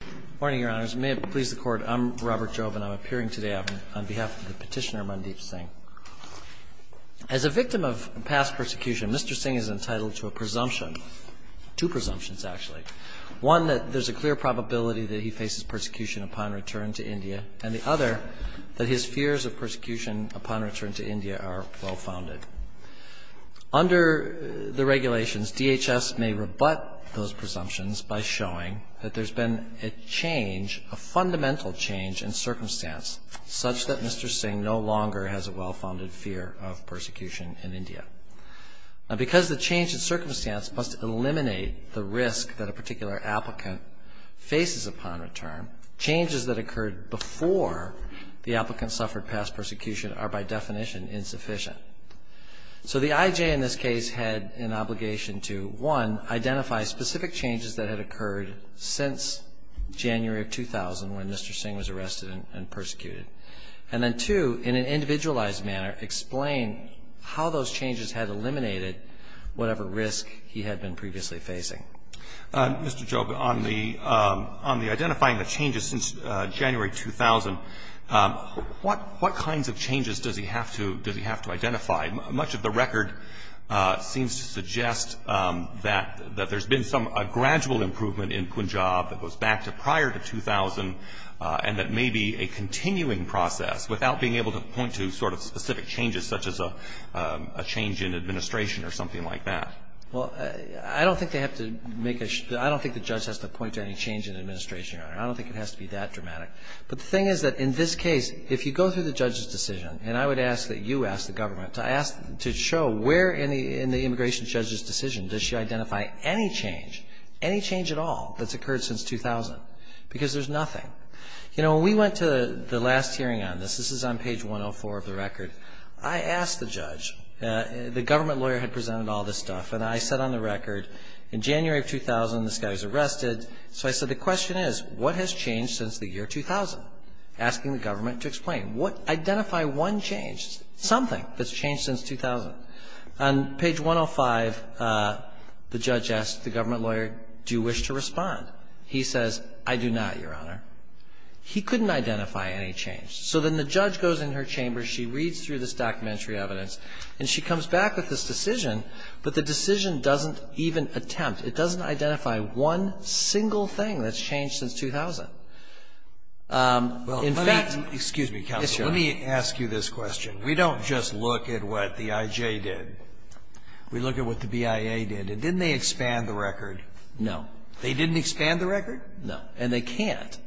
Good morning, Your Honors. May it please the Court, I'm Robert Jove, and I'm appearing today on behalf of the petitioner, Mandeep Singh. As a victim of past persecution, Mr. Singh is entitled to a presumption, two presumptions, actually. One, that there's a clear probability that he faces persecution upon return to India, and the other, that his fears of persecution upon return to India are well-founded. Under the regulations, DHS may rebut those presumptions by showing that there's been a change, a fundamental change in circumstance, such that Mr. Singh no longer has a well-founded fear of persecution in India. Now, because the change in circumstance must eliminate the risk that a particular applicant faces upon return, changes that occurred before the applicant suffered past persecution are, by definition, insufficient. So the IJ in this case had an obligation to, one, identify specific changes that had occurred since January of 2000, when Mr. Singh was arrested and persecuted. And then, two, in an individualized manner, explain how those changes had eliminated whatever risk he had been previously facing. Roberts. Mr. Jobe, on the identifying the changes since January 2000, what kinds of changes does he have to identify? Much of the record seems to suggest that there's been some gradual improvement in Punjab that goes back to prior to 2000, and that may be a continuing process without being able to point to sort of specific changes, such as a change in administration or something like that. Well, I don't think they have to make a, I don't think the judge has to point to any change in administration, Your Honor. I don't think it has to be that dramatic. But the thing is that in this case, if you go through the judge's decision, and I would ask that you ask the government to show where in the immigration judge's decision does she identify any change, any change at all that's occurred since 2000, because there's nothing. You know, when we went to the last hearing on this, this is on page 104 of the record, I asked the judge, the government lawyer had presented all this stuff, and I said on the record, in January of 2000 this guy was arrested, so I said the question is, what has changed since the year 2000? Asking the government to explain. Identify one change, something that's changed since 2000. On page 105, the judge asked the government lawyer, do you wish to respond? He says, I do not, Your Honor. He couldn't identify any change. So then the judge goes in her chamber, she reads through this documentary evidence, and she comes back with this decision, but the decision doesn't even attempt. It doesn't identify one single thing that's changed since 2000. In fact ---- Well, let me, excuse me, counsel. Yes, Your Honor. Let me ask you this question. We don't just look at what the IJ did. We look at what the BIA did. And didn't they expand the record? No. They didn't expand the record? No. And they can't.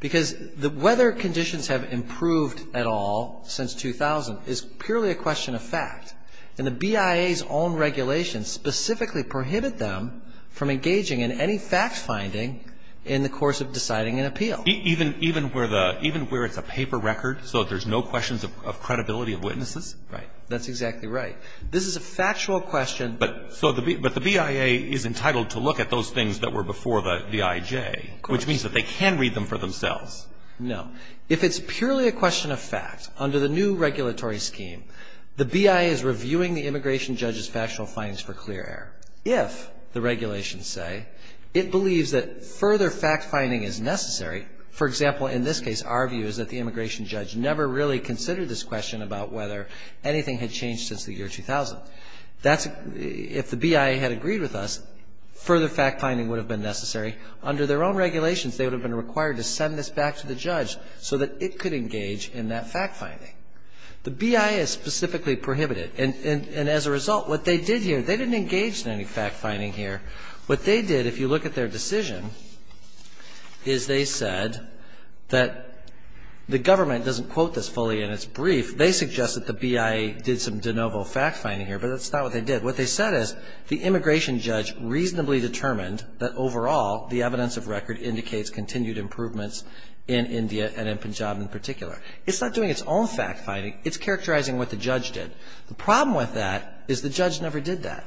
Because the weather conditions have improved at all since 2000 is purely a question of fact. And the BIA's own regulations specifically prohibit them from engaging in any fact-finding in the course of deciding an appeal. Even where it's a paper record, so there's no questions of credibility of witnesses? Right. That's exactly right. This is a factual question. But the BIA is entitled to look at those things that were before the IJ, which means that they can read them for themselves. No. If it's purely a question of fact, under the new regulatory scheme, the BIA is reviewing the immigration judge's factual findings for clear error. If, the regulations say, it believes that further fact-finding is necessary, for example, in this case our view is that the immigration judge never really considered this question about whether anything had changed since the year 2000. If the BIA had agreed with us, further fact-finding would have been necessary. Under their own regulations, they would have been required to send this back to the judge so that it could engage in that fact-finding. The BIA is specifically prohibited. And as a result, what they did here, they didn't engage in any fact-finding here. What they did, if you look at their decision, is they said that the government doesn't quote this fully in its brief. They suggest that the BIA did some de novo fact-finding here, but that's not what they did. What they said is the immigration judge reasonably determined that, overall, the evidence of record indicates continued improvements in India and in Punjab in particular. It's not doing its own fact-finding. It's characterizing what the judge did. The problem with that is the judge never did that.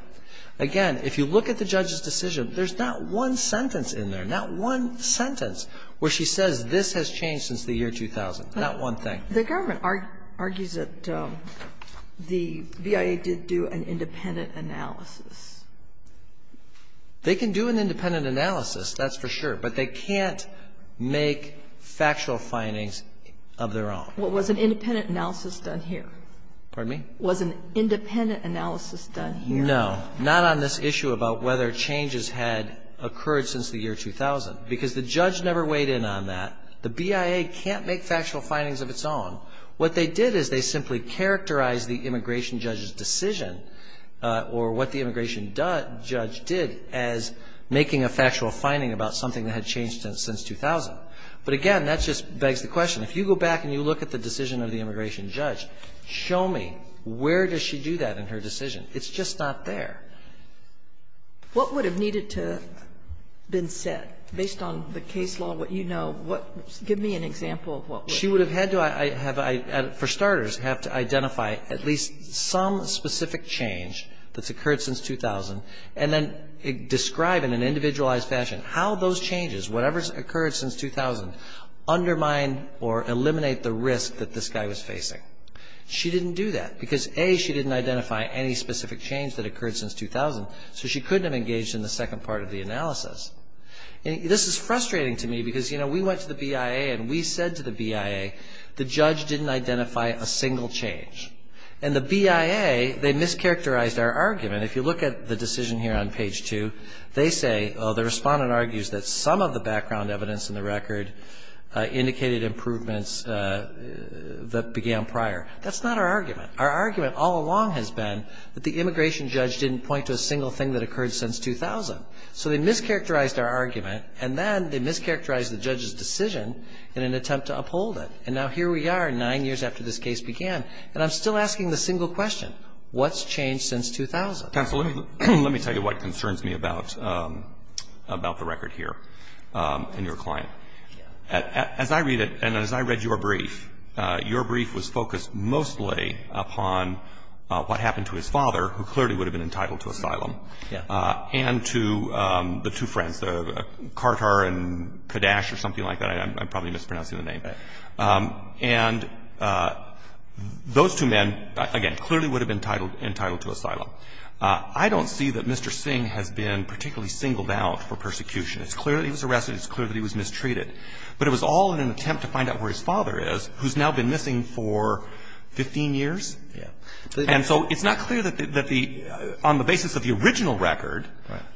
Again, if you look at the judge's decision, there's not one sentence in there, not one sentence where she says this has changed since the year 2000, not one thing. The government argues that the BIA did do an independent analysis. They can do an independent analysis, that's for sure. But they can't make factual findings of their own. Well, was an independent analysis done here? Pardon me? Was an independent analysis done here? No. Not on this issue about whether changes had occurred since the year 2000. Because the judge never weighed in on that. The BIA can't make factual findings of its own. What they did is they simply characterized the immigration judge's decision or what the immigration judge did as making a factual finding about something that had changed since 2000. But, again, that just begs the question. If you go back and you look at the decision of the immigration judge, show me where does she do that in her decision? It's just not there. What would have needed to have been set based on the case law, what you know? Give me an example of what would have needed to have been set. She would have had to have, for starters, have to identify at least some specific change that's occurred since 2000 and then describe in an individualized fashion how those changes, whatever's occurred since 2000, undermine or eliminate the risk that this guy was facing. She didn't do that because, A, she didn't identify any specific change that occurred since 2000, so she couldn't have engaged in the second part of the analysis. This is frustrating to me because, you know, we went to the BIA and we said to the BIA, the judge didn't identify a single change. And the BIA, they mischaracterized our argument. If you look at the decision here on page two, they say, oh, the respondent argues that some of the background evidence in the record indicated improvements that began prior. That's not our argument. Our argument all along has been that the immigration judge didn't point to a single thing that occurred since 2000. So they mischaracterized our argument and then they mischaracterized the judge's decision in an attempt to uphold it. And now here we are, nine years after this case began, and I'm still asking the single question, what's changed since 2000? Counsel, let me tell you what concerns me about the record here and your client. As I read it and as I read your brief, your brief was focused mostly upon what happened to his father, who clearly would have been entitled to asylum, and to the two friends, Kartar and Kadesh or something like that. I'm probably mispronouncing the name. And those two men, again, clearly would have been entitled to asylum. I don't see that Mr. Singh has been particularly singled out for persecution. It's clear that he was arrested. It's clear that he was mistreated. But it was all in an attempt to find out where his father is, who's now been missing for 15 years. And so it's not clear that the – on the basis of the original record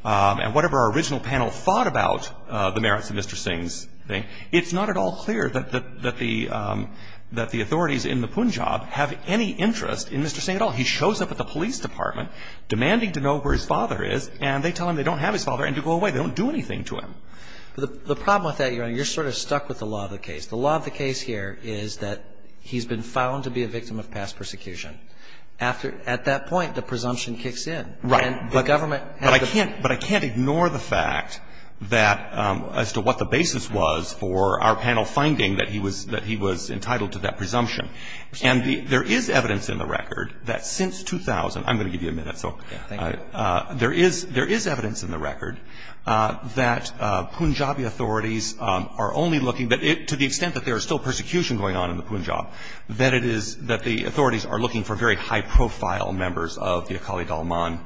and whatever our original panel thought about the merits of Mr. Singh's thing, it's not at all clear that the authorities in the Punjab have any interest in Mr. Singh at all. He shows up at the police department demanding to know where his father is, and they tell him they don't have his father and to go away. They don't do anything to him. The problem with that, Your Honor, you're sort of stuck with the law of the case. The law of the case here is that he's been found to be a victim of past persecution. After – at that point, the presumption kicks in. Right. And the government has to – But I can't – but I can't ignore the fact that as to what the basis was for our panel finding that he was – that he was entitled to that presumption. And there is evidence in the record that since 2000 – I'm going to give you a minute, so there is – there is evidence in the record that Punjabi authorities are only looking – to the extent that there is still persecution going on in the Punjab, that it is – that the authorities are looking for very high-profile members of the Akali Dalman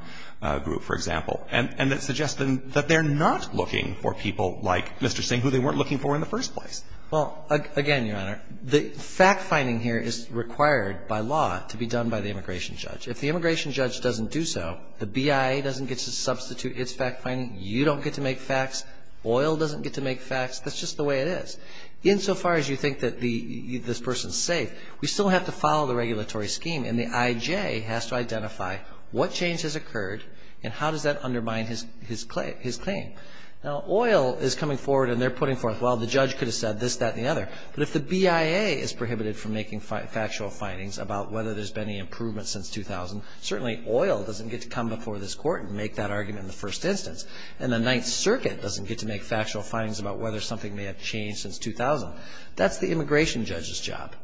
group, for example, and that suggests that they're not looking for people like Mr. Singh, who they weren't looking for in the first place. Well, again, Your Honor, the fact-finding here is required by law to be done by the immigration judge. If the immigration judge doesn't do so, the BIA doesn't get to substitute its fact-finding. You don't get to make facts. Oil doesn't get to make facts. That's just the way it is. Insofar as you think that the – this person is safe, we still have to follow the regulatory scheme, and the IJ has to identify what change has occurred and how does that undermine his claim. Now, oil is coming forward, and they're putting forth, well, the judge could have said this, that, and the other, but if the BIA is prohibited from making factual findings about whether there's been any improvement since 2000, certainly oil doesn't get to come before this Court and make that argument in the first instance. And the Ninth Circuit doesn't get to make factual findings about whether something may have changed since 2000. That's the immigration judge's job.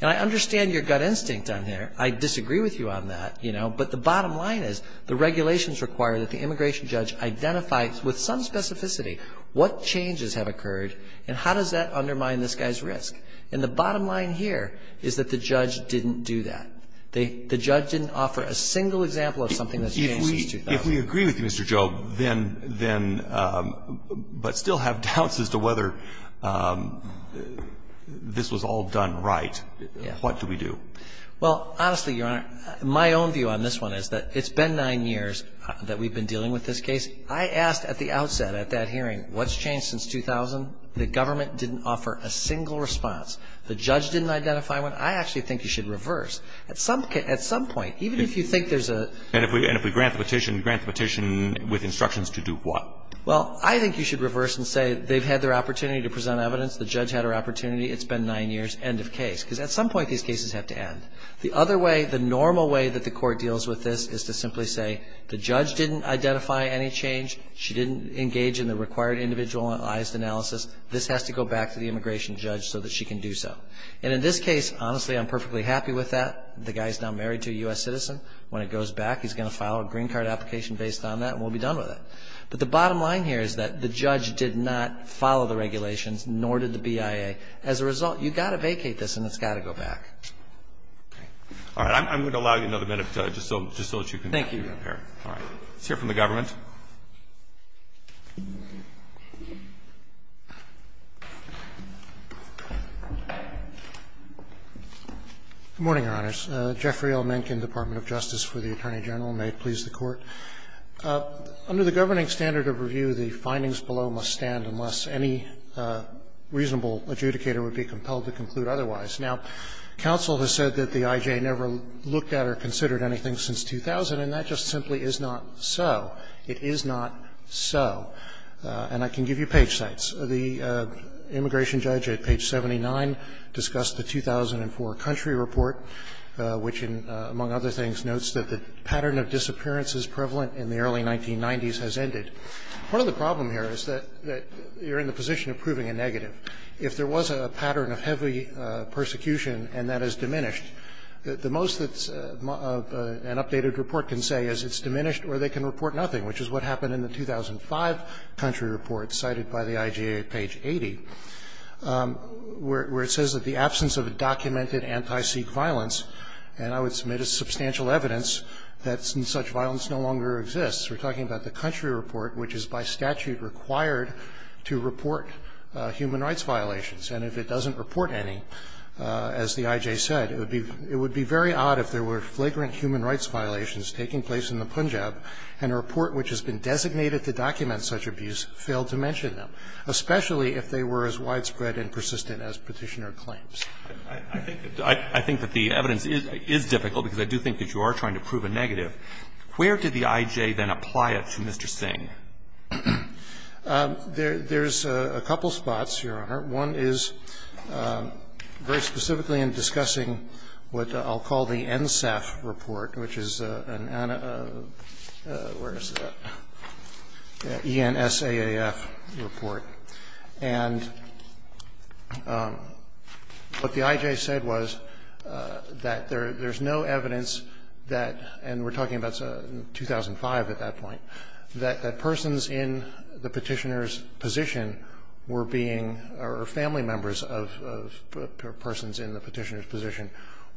And I understand your gut instinct on there. I disagree with you on that, you know, but the bottom line is the regulations require that the immigration judge identify with some specificity what changes have occurred and how does that undermine this guy's risk. And the bottom line here is that the judge didn't do that. The judge didn't offer a single example of something that's changed since 2000. If we agree with you, Mr. Jobe, then – but still have doubts as to whether this was all done right, what do we do? Well, honestly, Your Honor, my own view on this one is that it's been nine years that we've been dealing with this case. I asked at the outset at that hearing what's changed since 2000. The government didn't offer a single response. The judge didn't identify one. I actually think you should reverse. At some point, even if you think there's a – And if we grant the petition, we grant the petition with instructions to do what? Well, I think you should reverse and say they've had their opportunity to present evidence. The judge had her opportunity. It's been nine years. End of case. Because at some point these cases have to end. The other way, the normal way that the Court deals with this is to simply say the judge didn't identify any change. She didn't engage in the required individualized analysis. This has to go back to the immigration judge so that she can do so. And in this case, honestly, I'm perfectly happy with that. The guy's now married to a U.S. citizen. When it goes back, he's going to file a green card application based on that, and we'll be done with it. But the bottom line here is that the judge did not follow the regulations, nor did the BIA. As a result, you've got to vacate this, and it's got to go back. All right. I'm going to allow you another minute just so that you can prepare. Thank you. All right. Let's hear from the government. Good morning, Your Honors. Jeffrey L. Mencken, Department of Justice for the Attorney General. May it please the Court. Under the governing standard of review, the findings below must stand unless any reasonable adjudicator would be compelled to conclude otherwise. Now, counsel has said that the IJ never looked at or considered anything since 2000, and that just simply is not so. It is not so. And I can give you page sites. The immigration judge at page 79 discussed the 2004 country report, which, among other things, notes that the pattern of disappearance is prevalent in the early 1990s has ended. Part of the problem here is that you're in the position of proving a negative. If there was a pattern of heavy persecution and that has diminished, the most that an updated report can say is it's diminished or they can report nothing, which is what happened in the 2005 country report cited by the IJ at page 80, where it says that the absence of a documented anti-Sikh violence, and I would submit it's substantial evidence that such violence no longer exists. We're talking about the country report, which is by statute required to report human rights violations. And if it doesn't report any, as the IJ said, it would be very odd if there were flagrant human rights violations taking place in the Punjab and a report which has been designated to document such abuse failed to mention them, especially if they were as widespread and persistent as Petitioner claims. I think that the evidence is difficult, because I do think that you are trying to prove a negative. Where did the IJ then apply it to Mr. Singh? There's a couple spots, Your Honor. One is very specifically in discussing what I'll call the NSAF report, which is an ANA, where is it, ENSAAF report. And what the IJ said was that there's no evidence that, and we're talking about 2005 at that point, that persons in the Petitioner's position were being, or family members of persons in the Petitioner's position,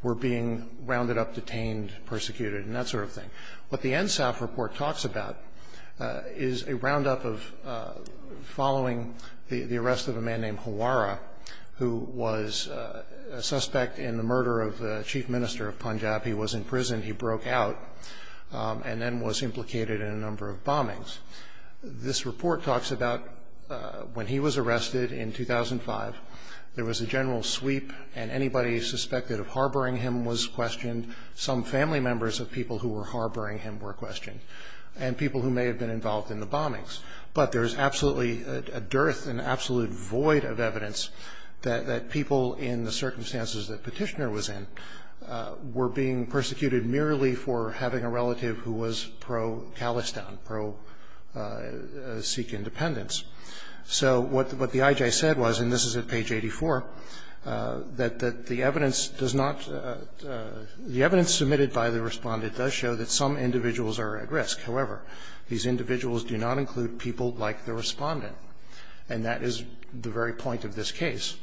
were being rounded up, detained, persecuted, and that sort of thing. What the ENSAAF report talks about is a roundup of following the arrest of a man named Hawara, who was a suspect in the murder of the chief minister of Punjab. He was in prison. He broke out and then was implicated in a number of bombings. This report talks about when he was arrested in 2005. There was a general sweep, and anybody suspected of harboring him was questioned. Some family members of people who were harboring him were questioned, and people who may have been involved in the bombings. But there is absolutely a dearth and absolute void of evidence that people in the relative who was pro-Calistan, pro-Sikh independence. So what the IJ said was, and this is at page 84, that the evidence does not the evidence submitted by the Respondent does show that some individuals are at risk. However, these individuals do not include people like the Respondent, and that is the very point of this case.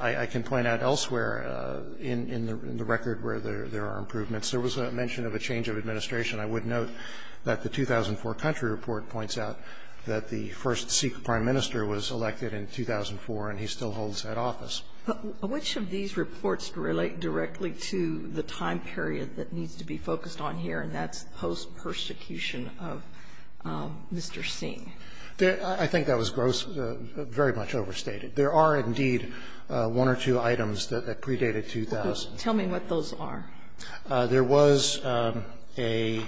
I can point out elsewhere in the record where there are improvements. There was a mention of a change of administration. I would note that the 2004 country report points out that the first Sikh prime minister was elected in 2004, and he still holds that office. Which of these reports relate directly to the time period that needs to be focused on here, and that's post-persecution of Mr. Singh? I think that was gross, very much overstated. There are indeed one or two items that predate a 2000. Tell me what those are. There was a.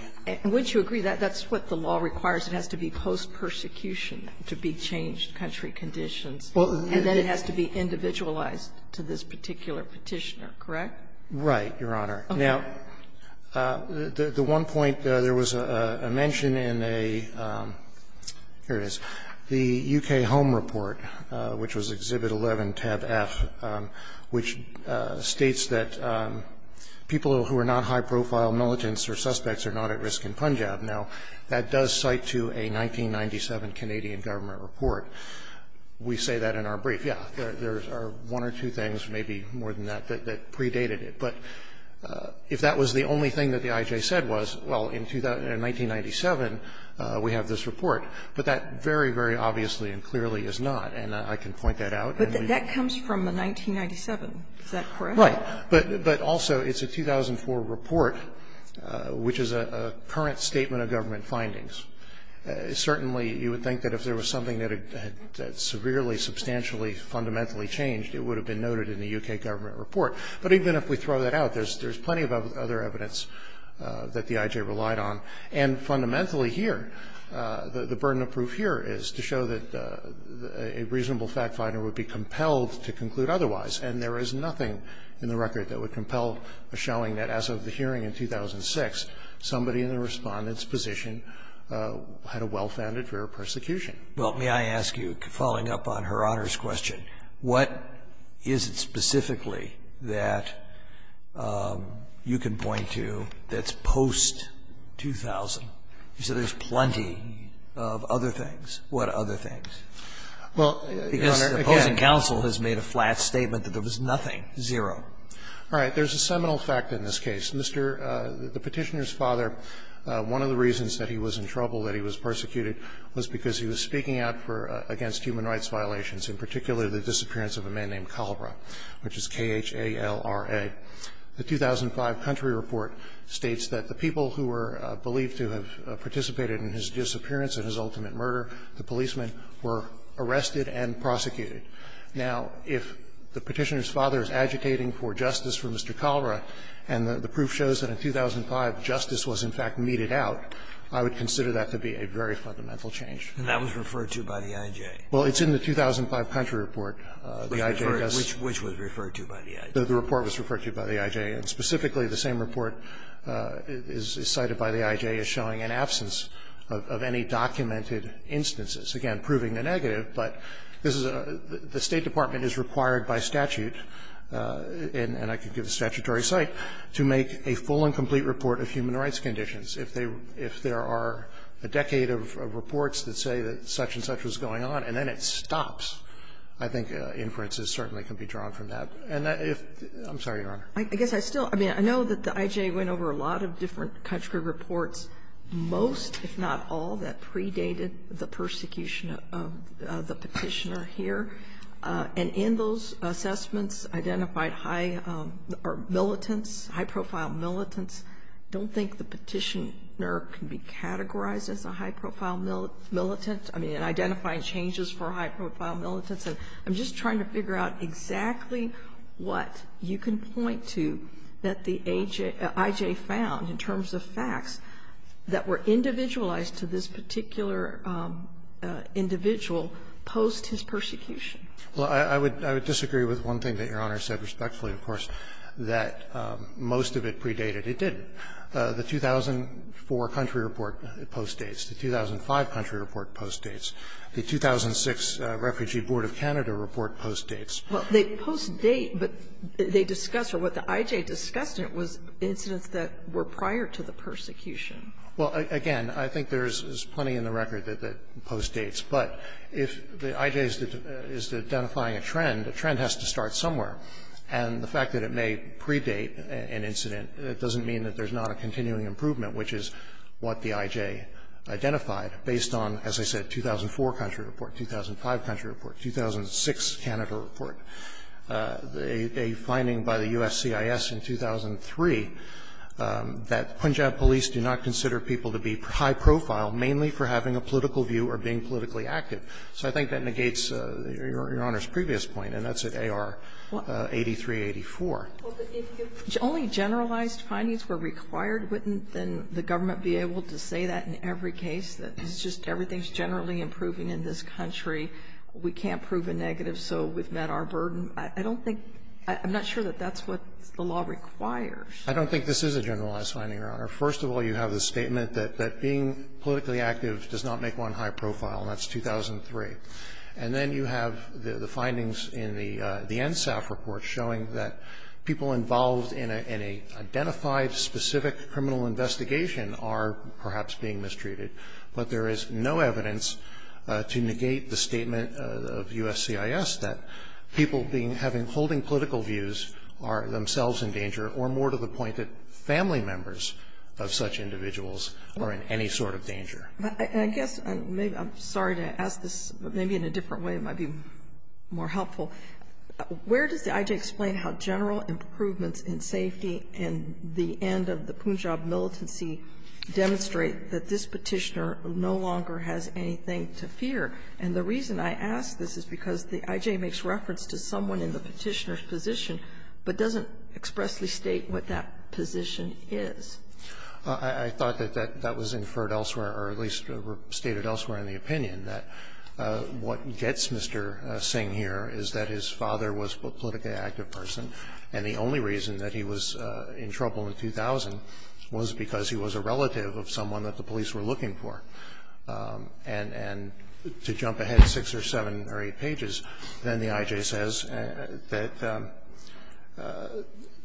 Wouldn't you agree that that's what the law requires? It has to be post-persecution to be changed country conditions, and then it has to be individualized to this particular Petitioner, correct? Right, Your Honor. Okay. The one point, there was a mention in a, here it is, the U.K. Home Report, which was Exhibit 11, Tab F, which states that people who are not high-profile militants or suspects are not at risk in Punjab. Now, that does cite to a 1997 Canadian government report. We say that in our brief. Yes, there are one or two things, maybe more than that, that predated it. But if that was the only thing that the IJ said was, well, in 1997 we have this report, but that very, very obviously and clearly is not. And I can point that out. But that comes from the 1997. Is that correct? Right. But also, it's a 2004 report, which is a current statement of government findings. Certainly, you would think that if there was something that had severely, substantially, fundamentally changed, it would have been noted in the U.K. government report. But even if we throw that out, there's plenty of other evidence that the IJ relied on. And fundamentally here, the burden of proof here is to show that a reasonable fact-finder would be compelled to conclude otherwise, and there is nothing in the record that would compel a showing that as of the hearing in 2006, somebody in the Respondent's position had a well-founded fear of persecution. Well, may I ask you, following up on Her Honor's question, what is it specifically that you can point to that's post-2000? You said there's plenty of other things. What other things? Well, Your Honor, again the opposing counsel has made a flat statement that there was nothing, zero. All right. There's a seminal fact in this case. Mr. the Petitioner's father, one of the reasons that he was in trouble, that he was speaking out for against human rights violations, in particular the disappearance of a man named Calra, which is K-H-A-L-R-A. The 2005 country report states that the people who were believed to have participated in his disappearance and his ultimate murder, the policemen, were arrested and prosecuted. Now, if the Petitioner's father is agitating for justice for Mr. Calra, and the proof shows that in 2005 justice was in fact meted out, I would consider that to be a very fundamental change. And that was referred to by the I.J.? Well, it's in the 2005 country report. The I.J. does not. Which was referred to by the I.J.? The report was referred to by the I.J., and specifically the same report is cited by the I.J. as showing an absence of any documented instances, again proving the negative. But this is a the State Department is required by statute, and I could give a statutory cite, to make a full and complete report of human rights conditions. If there are a decade of reports that say that such-and-such was going on, and then it stops, I think inferences certainly can be drawn from that. And if the ---- I'm sorry, Your Honor. I guess I still ---- I mean, I know that the I.J. went over a lot of different country reports, most, if not all, that predated the persecution of the Petitioner here. And in those assessments identified high or militants, high-profile militants. I don't think the Petitioner can be categorized as a high-profile militant. I mean, in identifying changes for high-profile militants. I'm just trying to figure out exactly what you can point to that the I.J. found in terms of facts that were individualized to this particular individual post his persecution. Well, I would disagree with one thing that Your Honor said respectfully, of course, that most of it predated. It didn't. The 2004 country report postdates. The 2005 country report postdates. The 2006 Refugee Board of Canada report postdates. Well, they postdate, but they discuss, or what the I.J. discussed in it was incidents that were prior to the persecution. Well, again, I think there's plenty in the record that postdates. But if the I.J. is identifying a trend, a trend has to start somewhere. And the fact that it may predate an incident doesn't mean that there's not a continuing improvement, which is what the I.J. identified based on, as I said, 2004 country report, 2005 country report, 2006 Canada report. A finding by the U.S. CIS in 2003 that Punjab police do not consider people to be high-profile mainly for having a political view or being politically active. So I think that negates Your Honor's previous point, and that's at AR. 83, 84. If only generalized findings were required, wouldn't the government be able to say that in every case, that it's just everything is generally improving in this country, we can't prove a negative, so we've met our burden? I don't think – I'm not sure that that's what the law requires. I don't think this is a generalized finding, Your Honor. First of all, you have the statement that being politically active does not make one high-profile, and that's 2003. And then you have the findings in the NSAF report showing that people involved in an identified specific criminal investigation are perhaps being mistreated, but there is no evidence to negate the statement of U.S. CIS that people being – having – holding political views are themselves in danger, or more to the point that family members of such individuals are in any sort of danger. I guess I'm sorry to ask this, but maybe in a different way it might be more helpful. Where does the IJ explain how general improvements in safety and the end of the Punjab militancy demonstrate that this Petitioner no longer has anything to fear? And the reason I ask this is because the IJ makes reference to someone in the Petitioner's position, but doesn't expressly state what that position is. I thought that that was inferred elsewhere, or at least stated elsewhere in the opinion, that what gets Mr. Singh here is that his father was a politically active person, and the only reason that he was in trouble in 2000 was because he was a relative of someone that the police were looking for. And to jump ahead six or seven or eight pages, then the IJ says that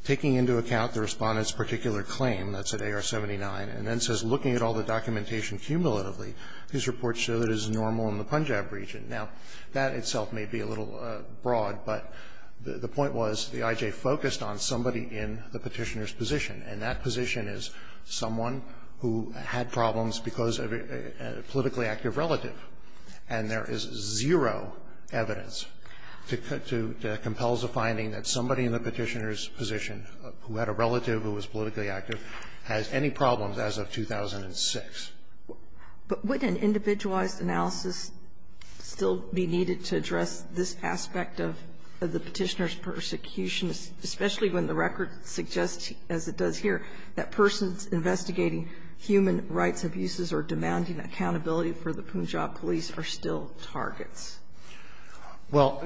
taking into account the Respondent's particular claim, that's at AR 79, and then says, looking at all the documentation cumulatively, these reports show that it is normal in the Punjab region. Now, that itself may be a little broad, but the point was the IJ focused on somebody in the Petitioner's position, and that position is someone who had problems because of a politically active relative, and there is zero evidence to compel the Petitioner's position, who had a relative who was politically active, has any problems as of 2006. But would an individualized analysis still be needed to address this aspect of the Petitioner's persecution, especially when the record suggests, as it does here, that persons investigating human rights abuses or demanding accountability for the Punjab police are still targets? Well,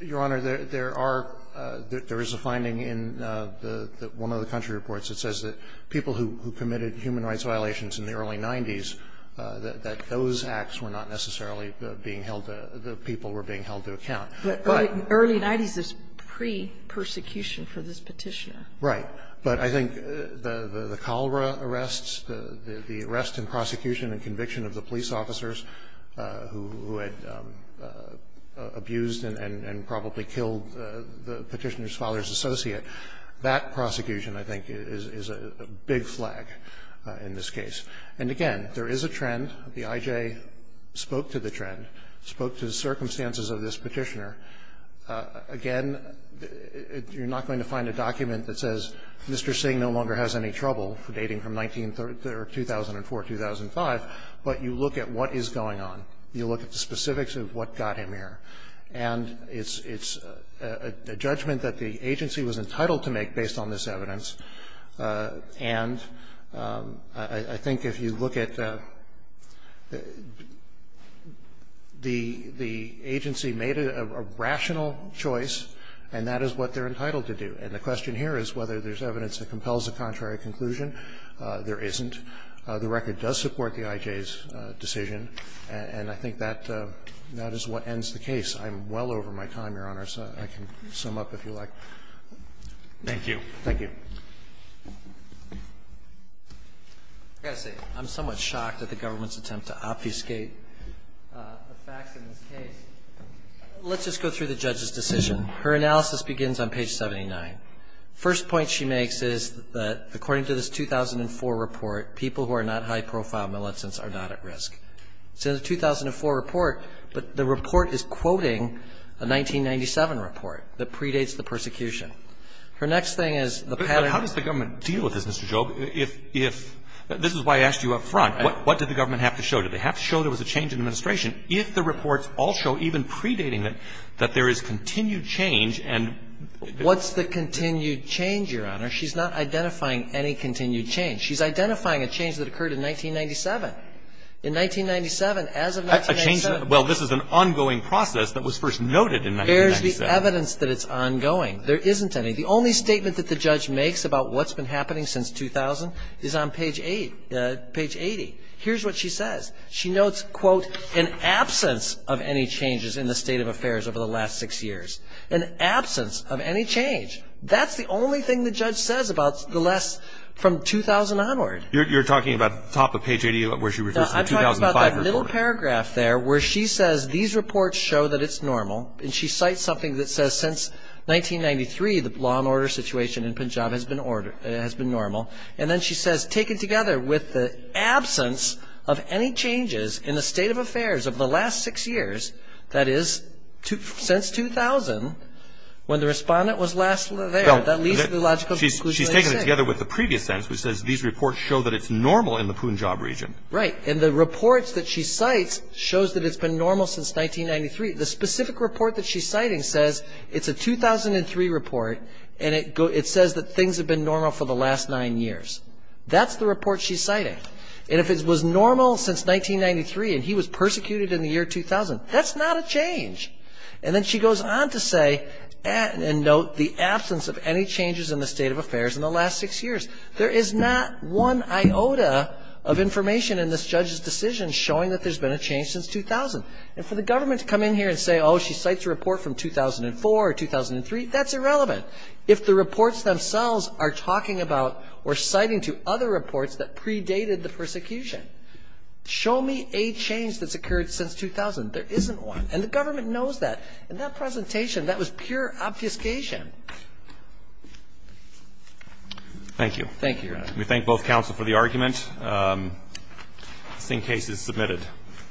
Your Honor, there are – there is a finding in the – one of the country reports that says that people who committed human rights violations in the early 90s, that those acts were not necessarily being held – the people were being held to account. But early 90s is pre-persecution for this Petitioner. Right. But I think the cholera arrests, the arrest and prosecution and conviction of the police officers who had abused and probably killed the Petitioner's father's associate, that prosecution, I think, is a big flag in this case. And again, there is a trend. The I.J. spoke to the trend, spoke to the circumstances of this Petitioner. Again, you're not going to find a document that says Mr. Singh no longer has any right to live, but you look at what is going on. You look at the specifics of what got him here. And it's a judgment that the agency was entitled to make based on this evidence. And I think if you look at – the agency made a rational choice, and that is what they're entitled to do. And the question here is whether there's evidence that compels a contrary conclusion. There isn't. The record does support the I.J.'s decision, and I think that is what ends the case. I'm well over my time, Your Honors. I can sum up, if you like. Thank you. Thank you. I've got to say, I'm somewhat shocked at the government's attempt to obfuscate the facts in this case. Let's just go through the judge's decision. Her analysis begins on page 79. First point she makes is that according to this 2004 report, people who are not high profile militants are not at risk. So the 2004 report, but the report is quoting a 1997 report that predates the persecution. Her next thing is the pattern of the – But how does the government deal with this, Mr. Job? If – this is why I asked you up front. What did the government have to show? Did they have to show there was a change in administration? If the reports all show, even predating it, that there is continued change and – What's the continued change, Your Honor? She's not identifying any continued change. She's identifying a change that occurred in 1997. In 1997, as of 1997 – A change – well, this is an ongoing process that was first noted in 1997. There's the evidence that it's ongoing. There isn't any. The only statement that the judge makes about what's been happening since 2000 is on page 8 – page 80. Here's what she says. She notes, quote, an absence of any changes in the state of affairs over the last six years. An absence of any change. That's the only thing the judge says about the last – from 2000 onward. You're talking about top of page 80, where she refers to the 2005 report. No, I'm talking about that little paragraph there where she says these reports show that it's normal, and she cites something that says since 1993, the law and order situation in Punjab has been – has been normal. And then she says, taken together with the absence of any changes in the state of affairs over the last six years, that is, since 2000, when the respondent was last there, that leads to the logical conclusion that I said. She's taken it together with the previous sentence, which says these reports show that it's normal in the Punjab region. Right. And the reports that she cites shows that it's been normal since 1993. The specific report that she's citing says it's a 2003 report, and it says that things That's the report she's citing. And if it was normal since 1993 and he was persecuted in the year 2000, that's not a change. And then she goes on to say, and note the absence of any changes in the state of affairs in the last six years. There is not one iota of information in this judge's decision showing that there's been a change since 2000. And for the government to come in here and say, oh, she cites a report from 2004 or 2003, that's irrelevant. If the reports themselves are talking about or citing to other reports that predated the persecution, show me a change that's occurred since 2000. There isn't one. And the government knows that. In that presentation, that was pure obfuscation. Thank you. Thank you, Your Honor. We thank both counsel for the argument. This case is submitted.